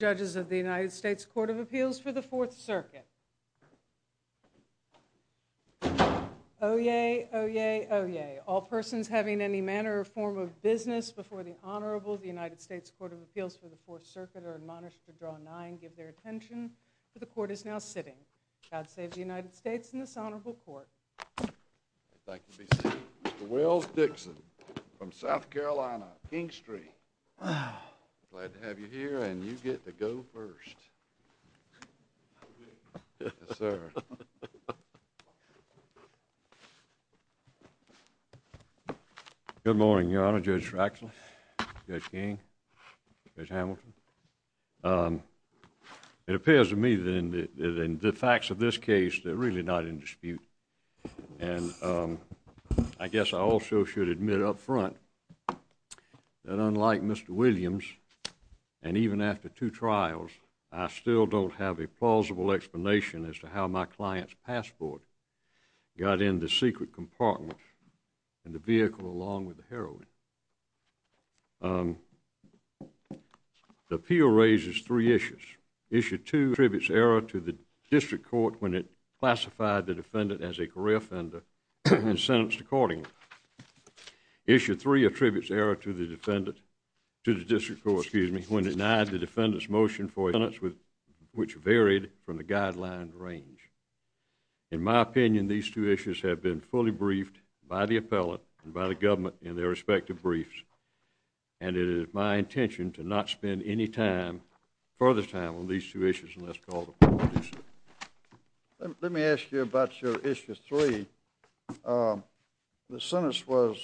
Judges of the United States Court of Appeals for the Fourth Circuit. Oh, yay. Oh, yay. Oh, yay. All persons having any manner or form of business before the Honorable the United States Court of Appeals for the Fourth Circuit are admonished to draw nine. Give their attention to the court is now sitting. God save the United States in this honorable court. Wells Dixon from South Carolina, King Street. Ah, glad to have you here and you get to go first. Sir. Good morning, Your Honor. Judge Fraxel King. There's Hamilton. Um, it appears to me that in the facts of this case, they're really not in dispute. And, um, I guess I also should admit up front that unlike Mr Williams and even after two trials, I still don't have a plausible explanation as to how my client's passport got in the secret compartment and the vehicle along with the heroine. Um, the appeal raises three issues. Issue two tributes error to the district court when it classified the defendant as a career offender and sentenced according issue three attributes error to the defendant to the district court, excuse me, when denied the defendant's motion for a sentence with which varied from the guideline range. In my opinion, these two issues have been fully briefed by the appellate and by the government in their respective briefs. And it is my intention to not spend any time further time on these two issues. And let's call the police. Let me ask you about your issue three. Um, the sentence was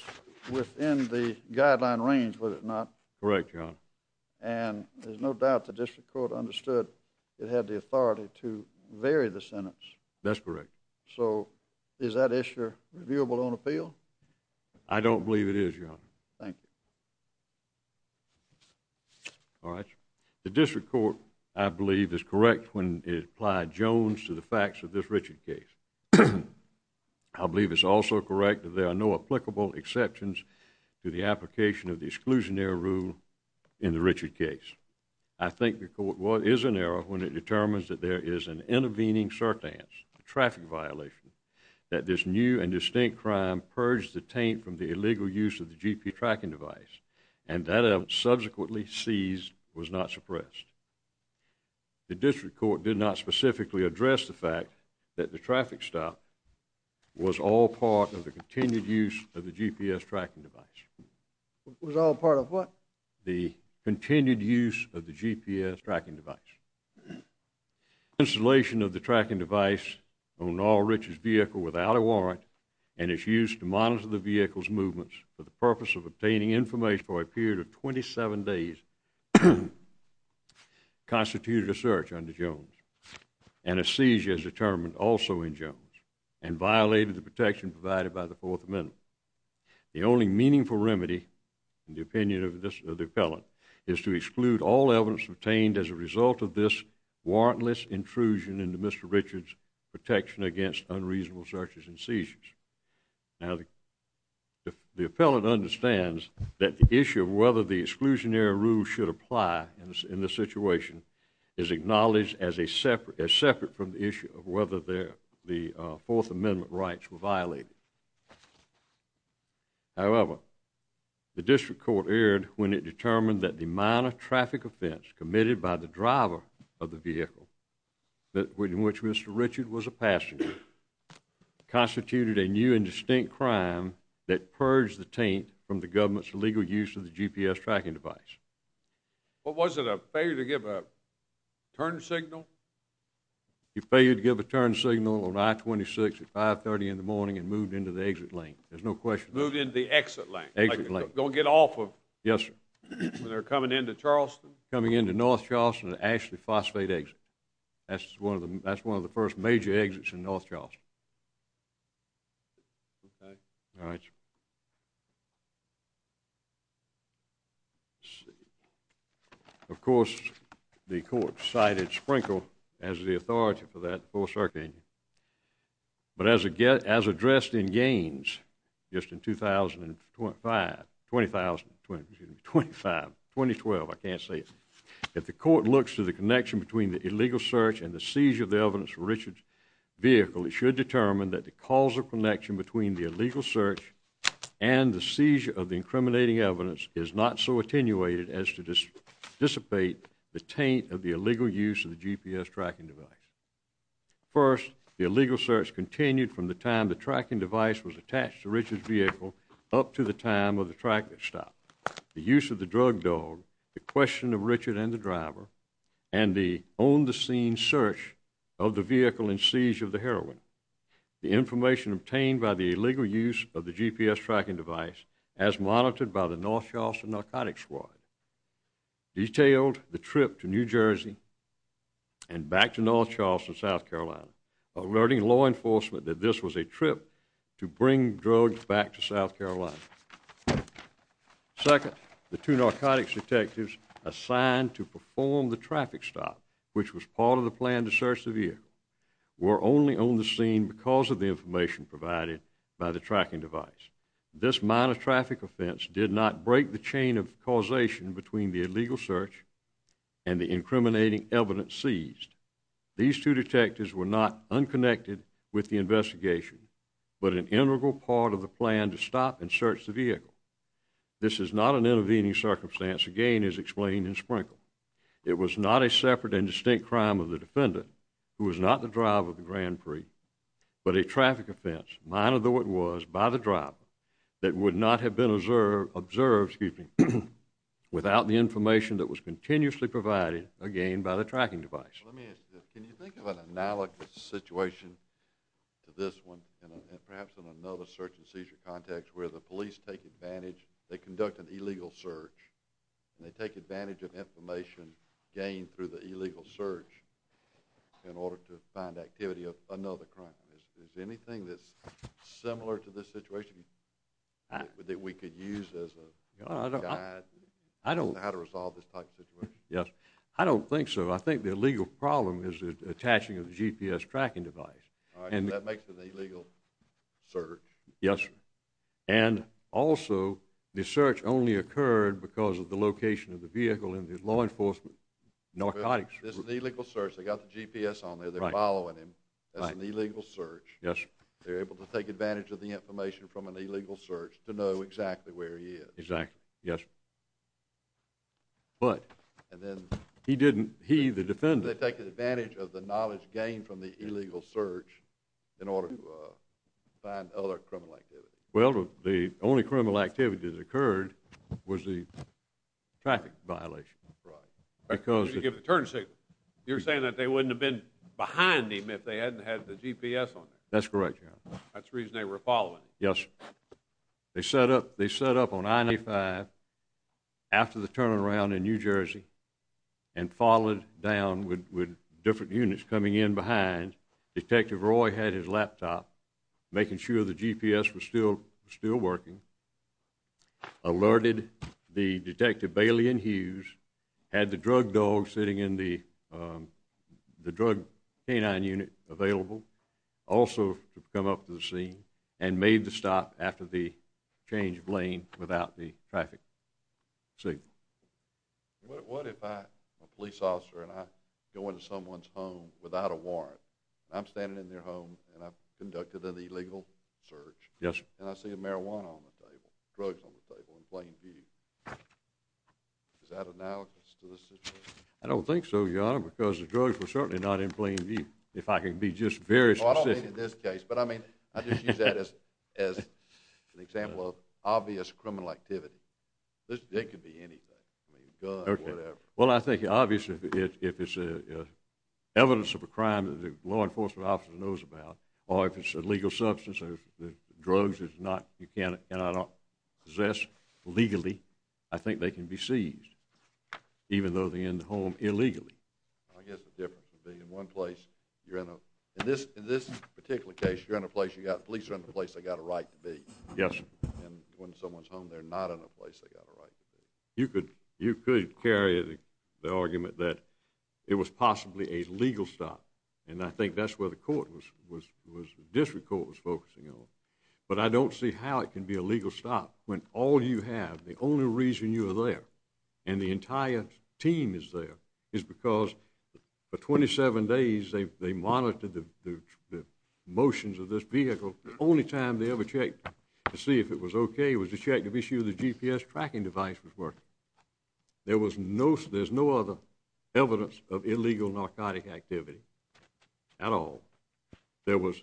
within the guideline range, was it not correct? And there's no doubt the district court understood it had the authority to vary the sentence. That's correct. So is that issue reviewable on appeal? I don't believe it is. Thank you. All right. The district court, I believe, is correct when it applied jones to the facts of this Richard case. I believe it's also correct that there are no applicable exceptions to the application of the exclusionary rule in the Richard case. I think the court what is an error when it determines that there is an intervening certain traffic violation that this new and distinct crime purged the taint from the illegal use of the gp tracking device and that subsequently seized was not suppressed. The district court did not specifically address the fact that the traffic stop was all part of the continued use of the GPS tracking device was all part of what the continued use of the GPS tracking device. Installation of the tracking device on all riches vehicle without a warrant and it's used to monitor the vehicle's movements for the purpose of obtaining information for a period of 27 days constituted a search under jones and a seizure is determined also in jones and violated the protection provided by the fourth amendment. The only meaningful remedy in the opinion of the appellant is to exclude all evidence obtained as a result of this warrantless intrusion into Mr Richard's protection against unreasonable searches and seizures. Now the the appellant understands that the issue of whether the exclusionary rule should apply in this in this situation is acknowledged as a separate as separate from the issue of whether they're the fourth amendment rights were violated. However, the district court aired when it determined that the minor traffic offense committed by the driver of the vehicle in which Mr Richard was a passenger constituted a new and distinct crime that purged the taint from the government's illegal use of the GPS tracking device. What was it a failure to give a turn signal? You failed to give a turn signal on I-26 at 5 30 in the morning and moved into the exit lane. There's no question moved into the exit lane exit lane. Don't get off of. Yes, sir. They're coming into charleston coming into north charleston and ashley phosphate exit. That's one of them. That's one of the first major exits in north charleston. Okay. All right. Of course, the court cited Sprinkle as the authority for that full circuit engine. But as I get as addressed in gains just in 2025 20,020 25 2012. I can't say if the court looks to the connection between the illegal search and the seizure of the evidence for Richard's vehicle, it should determine that the causal connection between the illegal search and the seizure of the incriminating evidence is not so attenuated as to just dissipate the taint of the illegal use of the GPS tracking device. First, the illegal search continued from the time the tracking device was attached to Richard's vehicle up to the time of the track that stopped the use of the Richard and the driver and the on the scene search of the vehicle and seizure of the heroin. The information obtained by the illegal use of the GPS tracking device as monitored by the north charleston narcotics squad detailed the trip to new jersey and back to north charleston south carolina alerting law enforcement that this was a trip to bring drugs back to south carolina. Second, the two narcotics detectives assigned to perform the traffic stop, which was part of the plan to search the vehicle were only on the scene because of the information provided by the tracking device. This minor traffic offense did not break the chain of causation between the illegal search and the incriminating evidence seized. These two detectives were not to stop and search the vehicle. This is not an intervening circumstance. Again is explained in Sprinkle. It was not a separate and distinct crime of the defendant who was not the drive of the grand prix but a traffic offense minor though it was by the drop that would not have been observed observed keeping without the information that was continuously provided again by the tracking device. Let me ask you, can you think of an analogous situation to this one perhaps in another search and seizure context where the police take advantage, they conduct an illegal search and they take advantage of information gained through the illegal search in order to find activity of another crime. Is there anything that's similar to this situation that we could use as a I don't know how to resolve this type of situation. Yes, I don't think so. I think the legal problem is attaching a gps tracking device and that makes an illegal search. Yes. And also the search only occurred because of the location of the vehicle in the law enforcement narcotics. This is the legal search. They got the gps on there. They're following him. That's an illegal search. Yes. They're able to take advantage of the information from an illegal search to know exactly where he is. Exactly. Yes. But and then he didn't, he the defendant, they take search in order to find other criminal activity. Well, the only criminal activities occurred was the traffic violation, right? Because you give the turn signal, you're saying that they wouldn't have been behind him if they hadn't had the gps on it. That's correct. That's the reason they were following. Yes. They set up, they set up on 95 after the turnaround in new jersey and followed down with different units coming in behind detective. Roy had his laptop making sure the gps was still still working, alerted the detective Bailey and Hughes had the drug dog sitting in the um the drug canine unit available also to come up to the scene and made the stop after the change of lane without the traffic. So what if I'm a police standing in their home and I've conducted an illegal search. Yes. And I see a marijuana on the table, drugs on the table in plain view. Is that analogous to the situation? I don't think so. Your honor, because the drugs were certainly not in plain view. If I can be just very specific in this case. But I mean, I just use that as as an example of obvious criminal activity. This day could be anything. I mean, whatever. Well, I think obviously if it's a evidence of a crime that the law enforcement officer knows about or if it's a legal substance, the drugs is not, you can't and I don't possess legally. I think they can be seized even though they're in the home illegally. I guess the difference would be in one place you're in this, in this particular case, you're in a place you got police are in the place. They got a right to be. Yes. And when someone's home they're not in a place they got a right to be. You could, you could carry the argument that it was possibly a legal stop. And I think that's where the court was, was, was district court was focusing on. But I don't see how it can be a legal stop when all you have, the only reason you are there and the entire team is there is because for 27 days they monitored the motions of this vehicle. Only time they ever checked to see if it was okay was to check to be sure the GPS tracking device was working. There was no, there's no other evidence of illegal narcotic activity at all. There was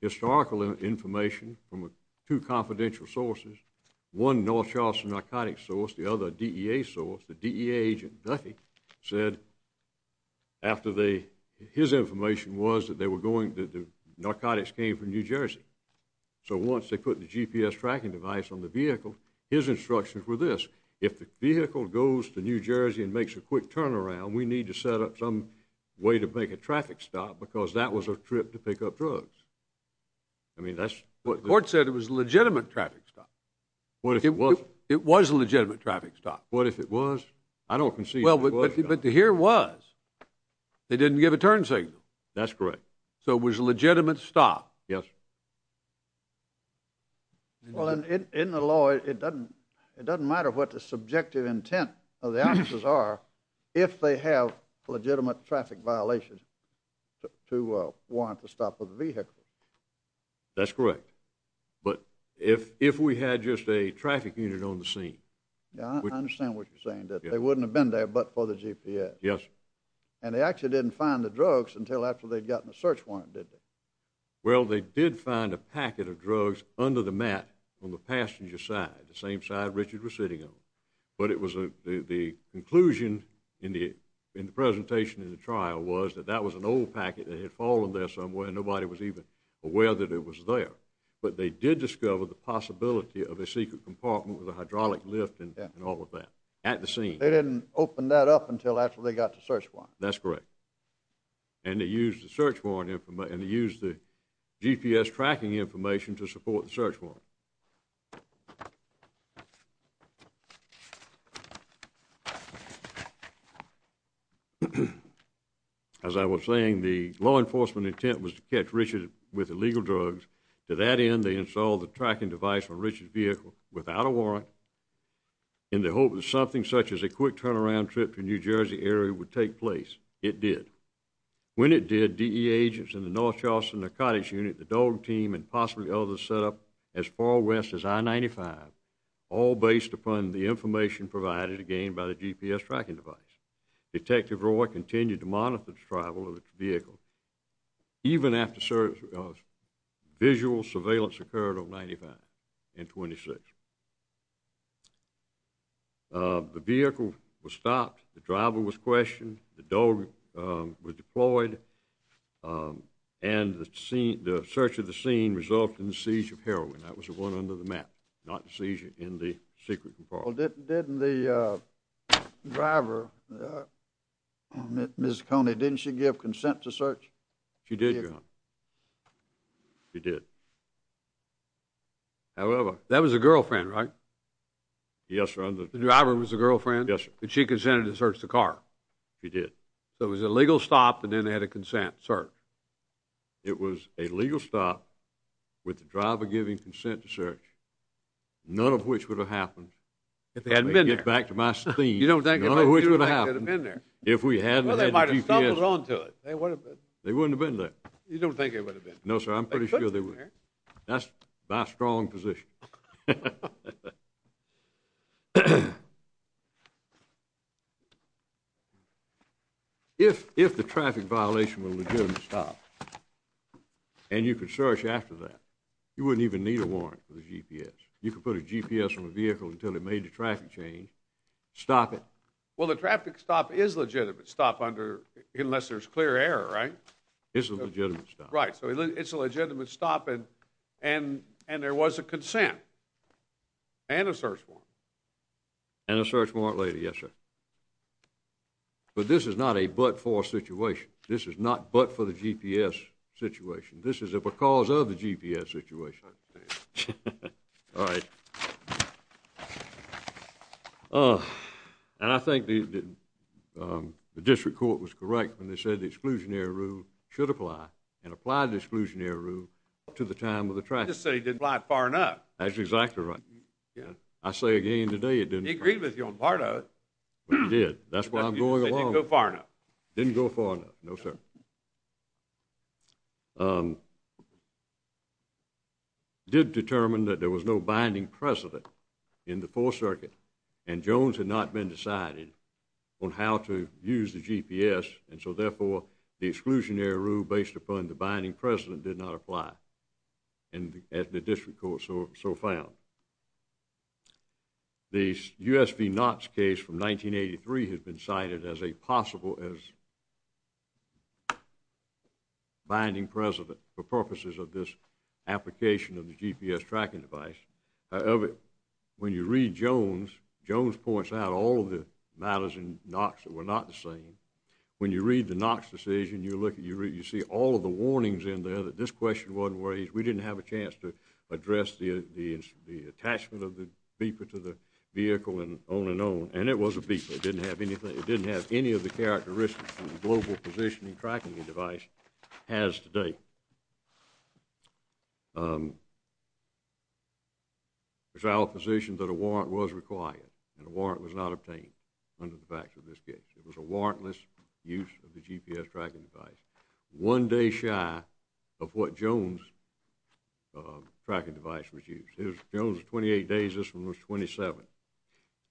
historical information from two confidential sources. One north charleston narcotics source, the other D. E. A. Source, the D. A. Agent Duffy said after they, his information was that they were going to do narcotics came from new jersey. So once they put the GPS tracking device on the vehicle, his instructions were this. If the vehicle goes to new jersey and makes a quick turnaround, we need to set up some way to make a traffic stop because that was a trip to pick up drugs. I mean, that's what court said. It was legitimate traffic stop. What if it was, it was legitimate traffic stop. What if it was, I don't concede. But here was they didn't give a turn signal. That's correct. So it was in the law. It doesn't, it doesn't matter what the subjective intent of the officers are if they have legitimate traffic violations to want to stop with the vehicle. That's correct. But if, if we had just a traffic unit on the scene, I understand what you're saying that they wouldn't have been there but for the GPS. Yes. And they actually didn't find the drugs until after they'd gotten a search warrant. Did they? Well, they did find a packet of drugs under the mat on the passenger side, the same side Richard was sitting on. But it was the conclusion in the, in the presentation in the trial was that that was an old packet that had fallen there somewhere and nobody was even aware that it was there. But they did discover the possibility of a secret compartment with a hydraulic lift and all of that at the scene. They didn't open that up until after they got the search warrant. That's correct. And they used the search warrant and they used the GPS tracking information to support the search warrant. As I was saying, the law enforcement intent was to catch Richard with illegal drugs. To that end, they installed the tracking device on Richard's vehicle without a warrant in the hope that something such as a quick turnaround trip to New Jersey area would take place. It did. When it did, DEA agents in the North Charleston narcotics unit, the dog team and possibly others set up as far west as I-95, all based upon the information provided again by the GPS tracking device. Detective Roy continued to monitor the travel of the vehicle. Even after the search, visual surveillance occurred on I-95 and 26th. The vehicle was stopped, the driver was questioned, the dog was deployed, and the search of the scene resulted in the seizure of heroin. That was the one under the map, not the seizure in the secret compartment. Well, didn't the driver, Ms. Coney, didn't she give consent to search? She did, your honor. She did. However, that was a girlfriend, right? Yes, sir. The driver was a girlfriend? Yes, sir. And she consented to search the car? She did. So it was a legal stop and then they had a consent search? It was a legal stop with the driver giving consent to search, none of which would have happened if they hadn't been there. Get back to my scene. You don't think none of which would have happened if we hadn't had the GPS? Well, they might have. They wouldn't have been there. You don't think it would have been? No, sir. I'm pretty sure they would. That's my strong position. If the traffic violation was a legitimate stop and you could search after that, you wouldn't even need a warrant for the GPS. You could put a GPS on the vehicle until it made the traffic change. Stop it. Well, the traffic stop is legitimate. Stop under, unless there's clear error, right? It's a legitimate stop, right? So it's a legitimate stop. And and and there was a consent and a search warrant and a search warrant later. Yes, sir. But this is not a but for situation. This is not but for the GPS situation. This is a because of the GPS situation. All right. Uh, and I think the, um, the district court was correct when they said the exclusionary rule should apply and apply the exclusionary rule to the time of the traffic. So he didn't fly far enough. That's exactly right. Yeah, I say again today. It didn't agree with you on part of it. But you did. That's why I'm going along. Go far enough. Didn't go far enough. No, sir. Um, did determine that there was no binding precedent in the fourth circuit and Jones had not been decided on how to use the GPS. And so therefore the exclusionary rule based upon the binding president did not apply and at the district court. So so found the USP knots case from 1983 has been cited as a possible as binding president for purposes of this application of the GPS tracking device. However, when you read Jones, Jones points out all the matters in Knox that were not the same. When you read the Knox decision, you look at you, you see all of the warnings in there that this question wasn't raised. We didn't have a chance to address the attachment of the beeper to the vehicle and on and on. And it was a beeper. It didn't have anything. It didn't have any of the characteristics global positioning tracking device has today. Um, it's our position that a warrant was required and the warrant was not obtained under the facts of this case. It was a warrantless use of the GPS tracking device. One day shy of what Jones, uh, tracking device was used. There's Jones 28 days. This one was 27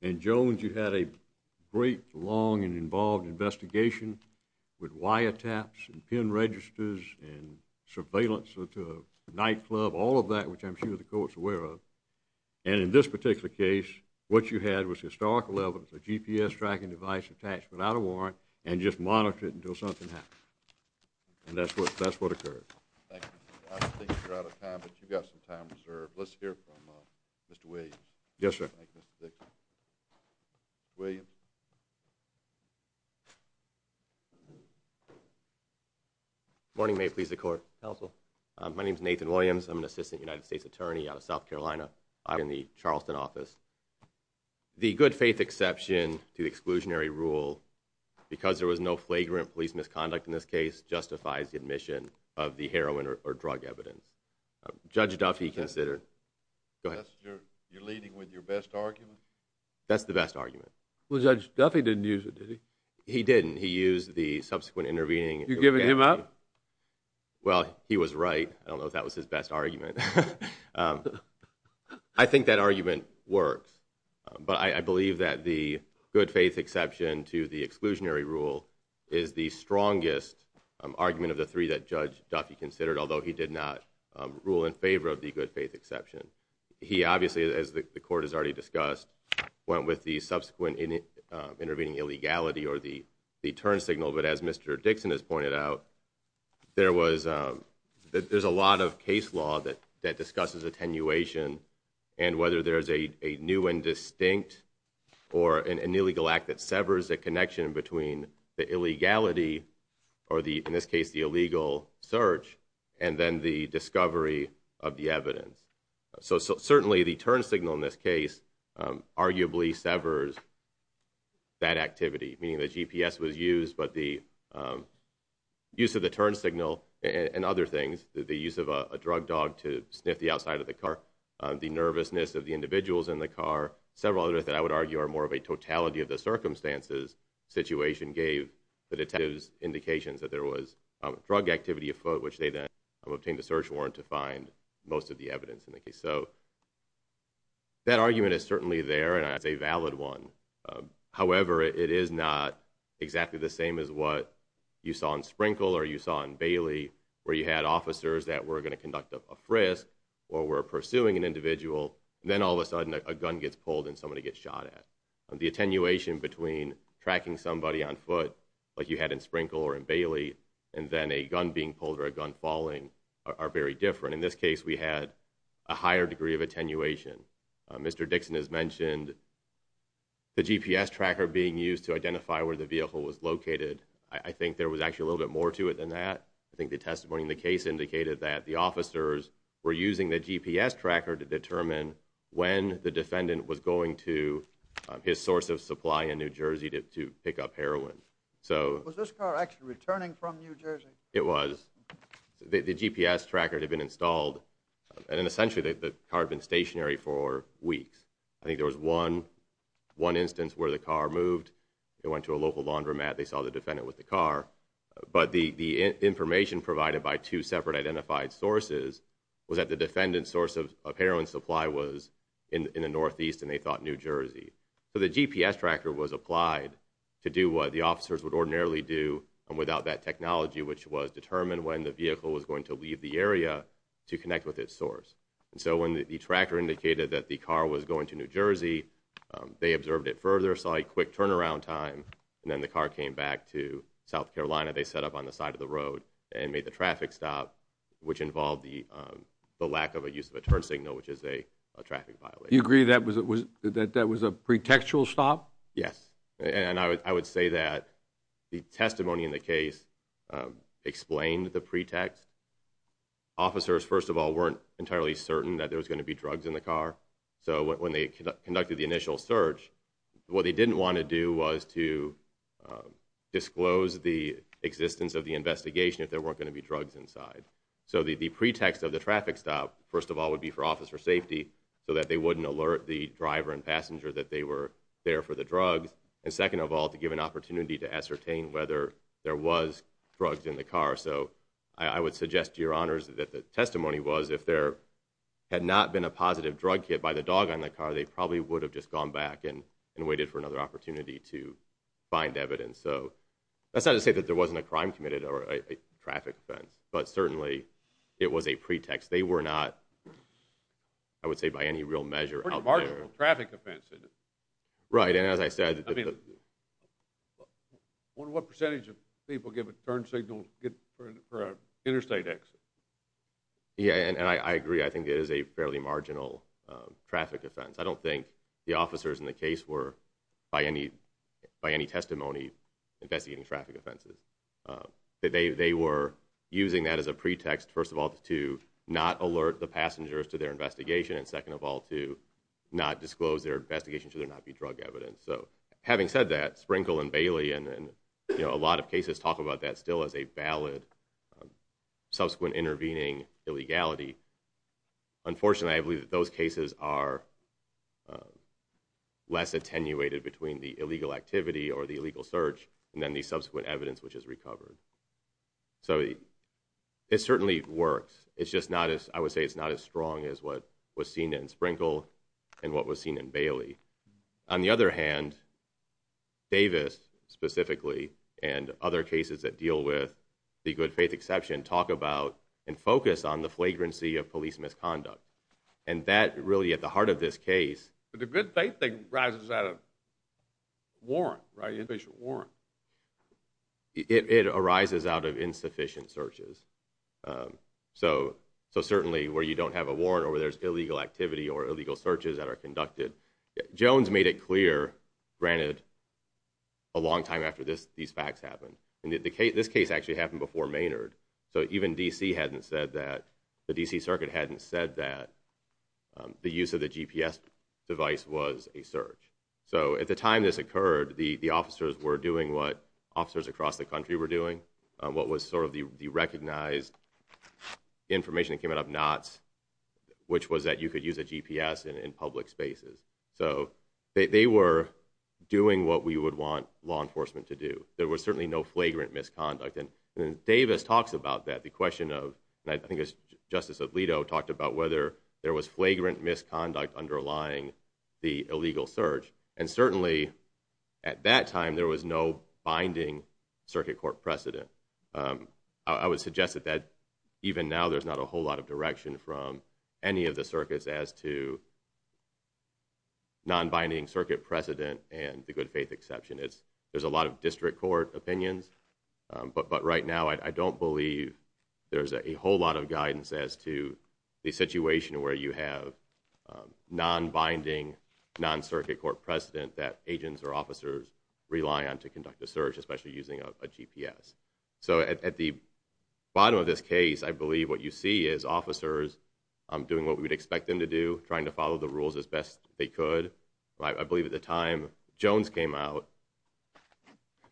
and Jones. You had a great long and involved investigation with wire taps and pin registers and surveillance to nightclub, all of that, which I'm sure the court's aware of. And in this particular case, what you had was historical evidence, a GPS tracking device attached without a warrant and just monitor it until something happens. And that's what that's what occurred. Thank you. You're out of time, but you've got some time reserved. Let's hear from Mr Williams. Yes, sir. William Mhm. Morning. May please. The court counsel. My name is Nathan Williams. I'm an assistant United States attorney out of South Carolina. I'm in the Charleston office. The good faith exception to exclusionary rule because there was no flagrant police misconduct in this case justifies the admission of the heroin or drug evidence. Judge Duffy considered. Go ahead. You're leading with your best argument. That's the best argument. Judge Duffy didn't use it, did he? He didn't. He used the subsequent intervening. You're giving him up. Well, he was right. I don't know if that was his best argument. Um, I think that argument works, but I believe that the good faith exception to the exclusionary rule is the strongest argument of the three that Judge Duffy considered, although he did not rule in favor of the good faith exception. He obviously, as the court has already discussed, went with the subsequent intervening illegality or the turn signal. But as Mr Dixon has pointed out, there was, um, there's a lot of case law that that discusses attenuation and whether there's a new and distinct or an illegal act that severs the connection between the illegality or the, in this case, the illegal search and then the discovery of the evidence. So certainly the turn signal in this case, um, arguably severs that activity, meaning the GPS was used, but the, um, use of the turn signal and other things, the use of a drug dog to sniff the outside of the car, the nervousness of the individuals in the car, several others that I would argue are more of a totality of the circumstances situation gave the obtained a search warrant to find most of the evidence in the case. So that argument is certainly there and it's a valid one. Um, however, it is not exactly the same as what you saw in Sprinkle or you saw in Bailey where you had officers that were going to conduct a frisk or were pursuing an individual. Then all of a sudden a gun gets pulled and somebody gets shot at the attenuation between tracking somebody on foot like you had in Sprinkle or in are very different. In this case we had a higher degree of attenuation. Mr. Dixon has mentioned the GPS tracker being used to identify where the vehicle was located. I think there was actually a little bit more to it than that. I think the testimony in the case indicated that the officers were using the GPS tracker to determine when the defendant was going to his source of supply in New Jersey to pick up heroin. So was this car actually returning from New Jersey? It was the GPS tracker had been installed and essentially the carbon stationary for weeks. I think there was one, one instance where the car moved, it went to a local laundromat. They saw the defendant with the car, but the information provided by two separate identified sources was that the defendant's source of heroin supply was in the northeast and they thought New Jersey. So the GPS tracker was applied to do what the officers would was determined when the vehicle was going to leave the area to connect with its source. And so when the tracker indicated that the car was going to New Jersey, um, they observed it further, saw a quick turnaround time and then the car came back to South Carolina. They set up on the side of the road and made the traffic stop, which involved the, um, the lack of a use of a turn signal, which is a traffic violation. You agree that was it was that that was a pretextual stop? Yes. And I would say that the testimony in the case explained the pretext. Officers, first of all, weren't entirely certain that there was going to be drugs in the car. So when they conducted the initial search, what they didn't want to do was to, um, disclose the existence of the investigation if there weren't going to be drugs inside. So the pretext of the traffic stop, first of all, would be for officer safety so that they wouldn't alert the driver and passenger that they were there for the drugs. And second of all, to give an opportunity to ascertain whether there was drugs in the car. So I would suggest to your honors that the testimony was if there had not been a positive drug hit by the dog on the car, they probably would have just gone back and and waited for another opportunity to find evidence. So that's not to say that there wasn't a crime committed or a traffic offense, but certainly it was a pretext. They were not, I would say, by any real measure, a marginal traffic offense. Right. And as I said, I mean, what percentage of people give a turn signal for interstate exit? Yeah. And I agree. I think it is a fairly marginal traffic offense. I don't think the officers in the case were by any by any testimony investigating traffic offenses. Uh, they were using that as a pretext, first of all, to not alert the passengers to their investigation. And second of all, to not disclose their investigation should not be drug evidence. So having said that, Sprinkle and Bailey and a lot of cases talk about that still as a valid subsequent intervening illegality. Unfortunately, I believe that those cases are less attenuated between the illegal activity or the illegal search and then the subsequent evidence which is recovered. So it certainly works. It's just not as I would say it's not as strong as what was seen in Sprinkle and what was seen in Bailey. On the other hand, Davis specifically and other cases that deal with the good faith exception, talk about and focus on the flagrancy of police misconduct. And that really at the heart of this case, but the good faith thing rises out of warrant, right? Inpatient warrant. It arises out of insufficient searches. Um, so so certainly where you don't have a warrant or where there's illegal activity or illegal searches that are conducted, Jones made it clear, granted a long time after this, these facts happen and the case, this case actually happened before Maynard. So even D. C. Hadn't said that the D. C. Circuit hadn't said that the use of the GPS device was a search. So at the time this occurred, the officers were doing what officers across the country were doing. What was sort of the recognized information that came out of knots, which was that you could use a GPS in public spaces. So they were doing what we would want law enforcement to do. There was certainly no flagrant misconduct. And Davis talks about that the question of, I think it's Justice Alito talked about whether there was flagrant misconduct underlying the illegal search. And certainly at that time there was no binding circuit court precedent. Um, I would suggest that that even now there's not a whole lot of direction from any of the circus as to non binding circuit precedent and the good faith exception is there's a lot of district court opinions. But right now I don't believe there's a whole lot of guidance as to the situation where you have non binding non circuit court precedent that agents or officers rely on to conduct the search, especially using a GPS. So at the bottom of this case, I believe what you see is officers doing what we would expect them to do, trying to follow the rules as best they could. I believe at the time Jones came out,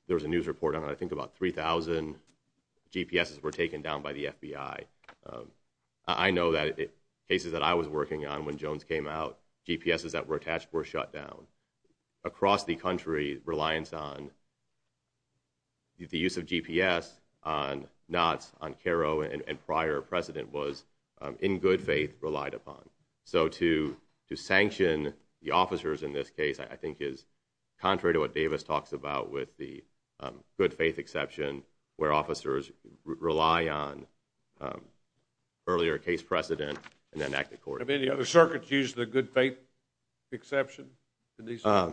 there was a news report on, I think about 3000 GPS were taken down by the FBI. Um, I know that cases that I was working on when Jones came out, GPS is that were attached were shut down across the country. Reliance on the use of GPS on knots on caro and prior president was in good faith relied upon. So to to sanction the officers in this case, I think is contrary to what Davis talks about with the good faith exception where officers rely on earlier case precedent and then act according to any other circuits, use the good faith exception. Uh,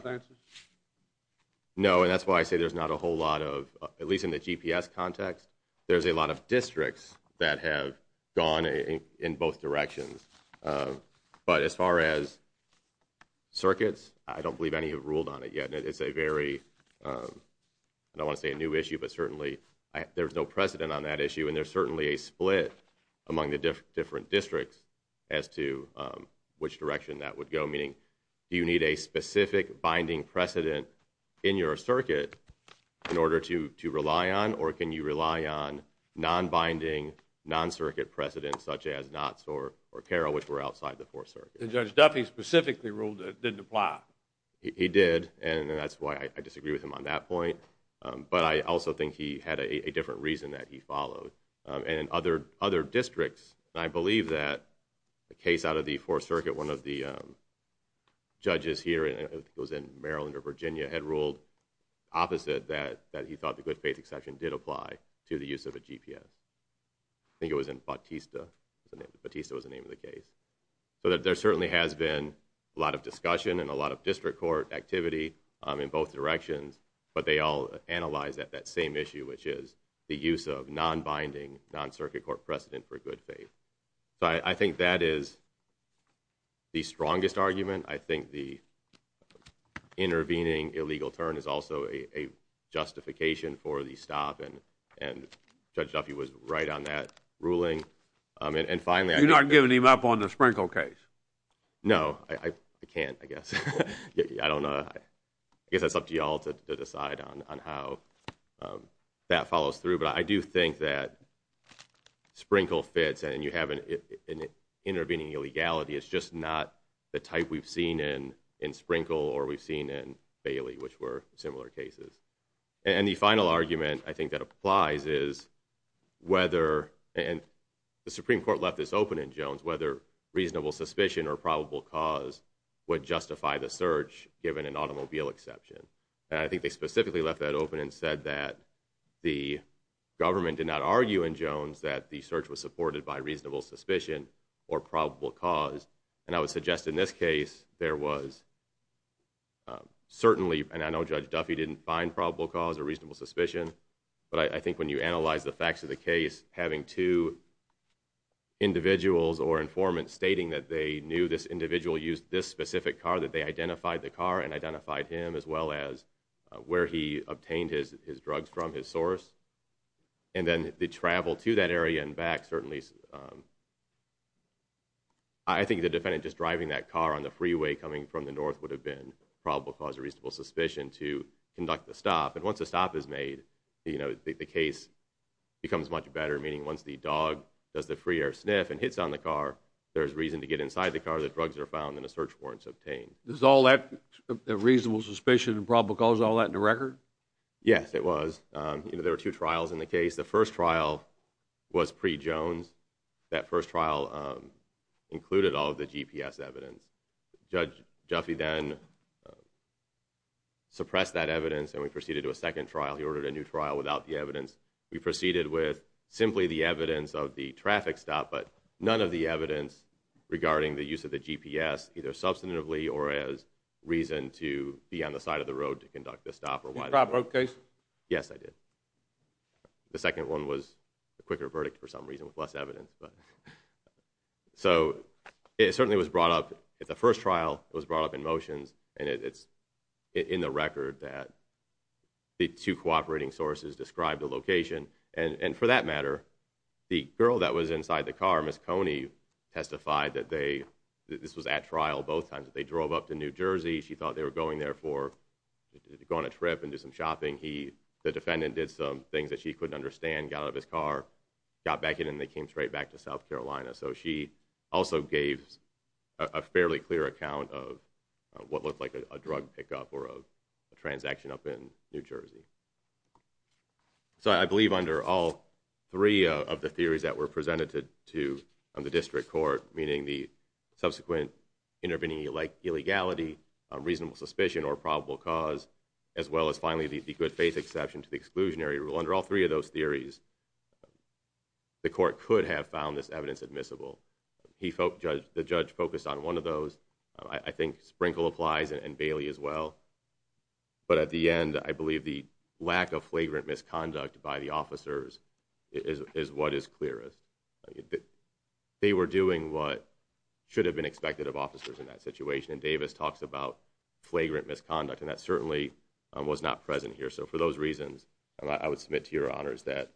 no. And that's why I say there's not a whole lot of, at least in the GPS context, there's a lot of districts that have gone in both directions. Uh, but as far as circuits, I don't believe any have ruled on it yet. It's a very, um, I don't wanna say a new issue, but certainly there's no precedent on that issue. And there's certainly a split among the different districts as to which direction that would go. Meaning you need a specific binding precedent in your circuit in order to rely on. Or can you rely on non binding non circuit precedent such as knots or caro, which were outside the fourth circuit? Judge Duffy specifically ruled didn't apply. He did. And that's why I disagree with him on that point. But I also think he had a case out of the fourth circuit. One of the judges here, it was in Maryland or Virginia, had ruled opposite that he thought the good faith exception did apply to the use of a GPS. I think it was in Bautista. Bautista was the name of the case. So there certainly has been a lot of discussion and a lot of district court activity in both directions. But they all analyze that that same issue, which is the use of non binding non circuit court precedent for good faith. So I think that is the strongest argument. I think the intervening illegal turn is also a justification for the stop and and judge Duffy was right on that ruling. And finally, I'm not giving him up on the sprinkle case. No, I can't, I guess. I don't know. I guess it's up to you all to decide on on how, um, that follows through. But I do think that sprinkle fits and you haven't intervening illegality. It's just not the type we've seen in in Sprinkle or we've seen in Bailey, which were similar cases. And the final argument I think that applies is whether and the Supreme Court left this open in Jones, whether reasonable suspicion or probable cause would justify the search given an automobile exception. And I think they specifically left that open and said that the government did not argue in Jones that the search was supported by reasonable suspicion or probable cause. And I would suggest in this case there was certainly and I know Judge Duffy didn't find probable cause or reasonable suspicion. But I think when you analyze the facts of the case, having two individuals or informant stating that they knew this individual used this specific car, that they identified the car and identified him as well as where he obtained his drugs from his source. And then the travel to that area and back. Certainly, I think the defendant just driving that car on the freeway coming from the north would have been probable cause of reasonable suspicion to conduct the stop. And once the stop is made, you know, the case becomes much better. Meaning once the dog does the free air sniff and hits on the car, there's reason to get inside the car. The drugs are found in the search warrants obtained. This is all that reasonable suspicion and probable cause all that in the record. Yes, it was. You know, there are two trials in the case. The first trial was pre Jones. That first trial included all of the GPS evidence. Judge Duffy then suppressed that evidence and we proceeded to a second trial. He ordered a new trial without the evidence. We proceeded with simply the evidence of the traffic stop, but none of the evidence regarding the use of the GPS either substantively or as reason to be on the side of the road to conduct the stop or whatever. Okay. Yes, I did. The second one was a quicker verdict for some reason with less evidence. But so it certainly was brought up at the first trial. It was brought up in motions and it's in the record that the two cooperating sources described the location. And for that matter, the girl that was inside the car, Miss Coney testified that they, this was at trial both times that they drove up to New Jersey. She thought they were going there for to go on a trip and do some shopping. He, the defendant did some things that she couldn't understand, got out of his car, got back in and they came straight back to South Carolina. So she also gave a fairly clear account of what looked like a drug pickup or a transaction up in New Jersey. So I believe under all three of the theories that were presented to the district court, meaning the subsequent intervening like illegality, reasonable suspicion or probable cause, as well as finally the good faith exception to the exclusionary rule. Under all three of those theories, the court could have found this evidence admissible. He felt the judge focused on one of those. I think Sprinkle applies and Bailey as well. But at the end, I believe the lack of flagrant misconduct by the officers is what is clearest. They were doing what should have been expected of officers in that situation. And Davis talks about flagrant misconduct, and that certainly was not present here. So for those reasons, I would submit to your honors that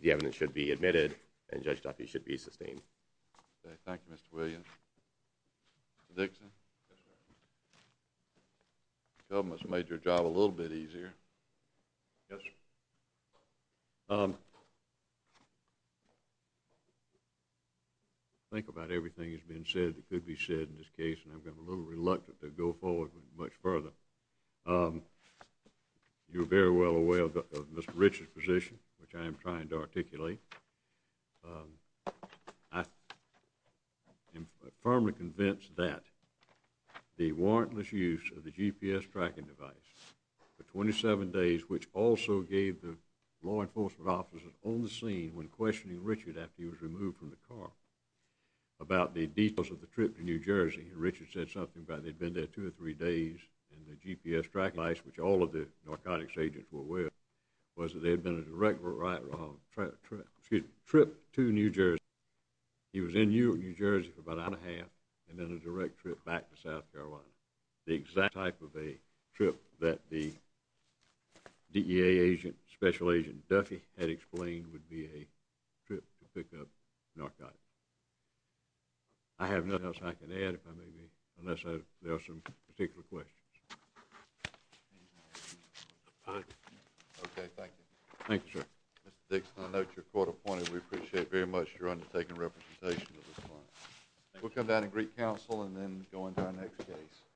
the evidence should be admitted and judge Duffy should be sustained. Thank you, Mr William Dixon. Government's made your job a little bit easier. Yes. Um, think about everything has been said that could be said in this case, and I've got a little reluctant to go forward much further. Um, you're very well aware of Mr Richard's position, which I am trying to articulate. Um, I I'm firmly convinced that the warrantless use of the GPS tracking device for 27 days, which also gave the law enforcement officers on the scene when questioning Richard after he was removed from the car about the details of the trip to New Jersey, Richard said something about they've been there two or three days and the GPS track nice, which all of the narcotics agents were aware was that they had been a direct right wrong trip trip trip to New He was in New Jersey for about a half and then a direct trip back to South Carolina. The exact type of a trip that the D. A. Agent Special Agent Duffy had explained would be a trip to pick up narcotics. I have nothing else I can add if I may be unless there are some particular questions. Okay, thank you. Thank you, sir. Mr Dixon. I know you're court appointed. We appreciate very much. You're undertaking representation. We'll come down and Greek Council and then going down next case.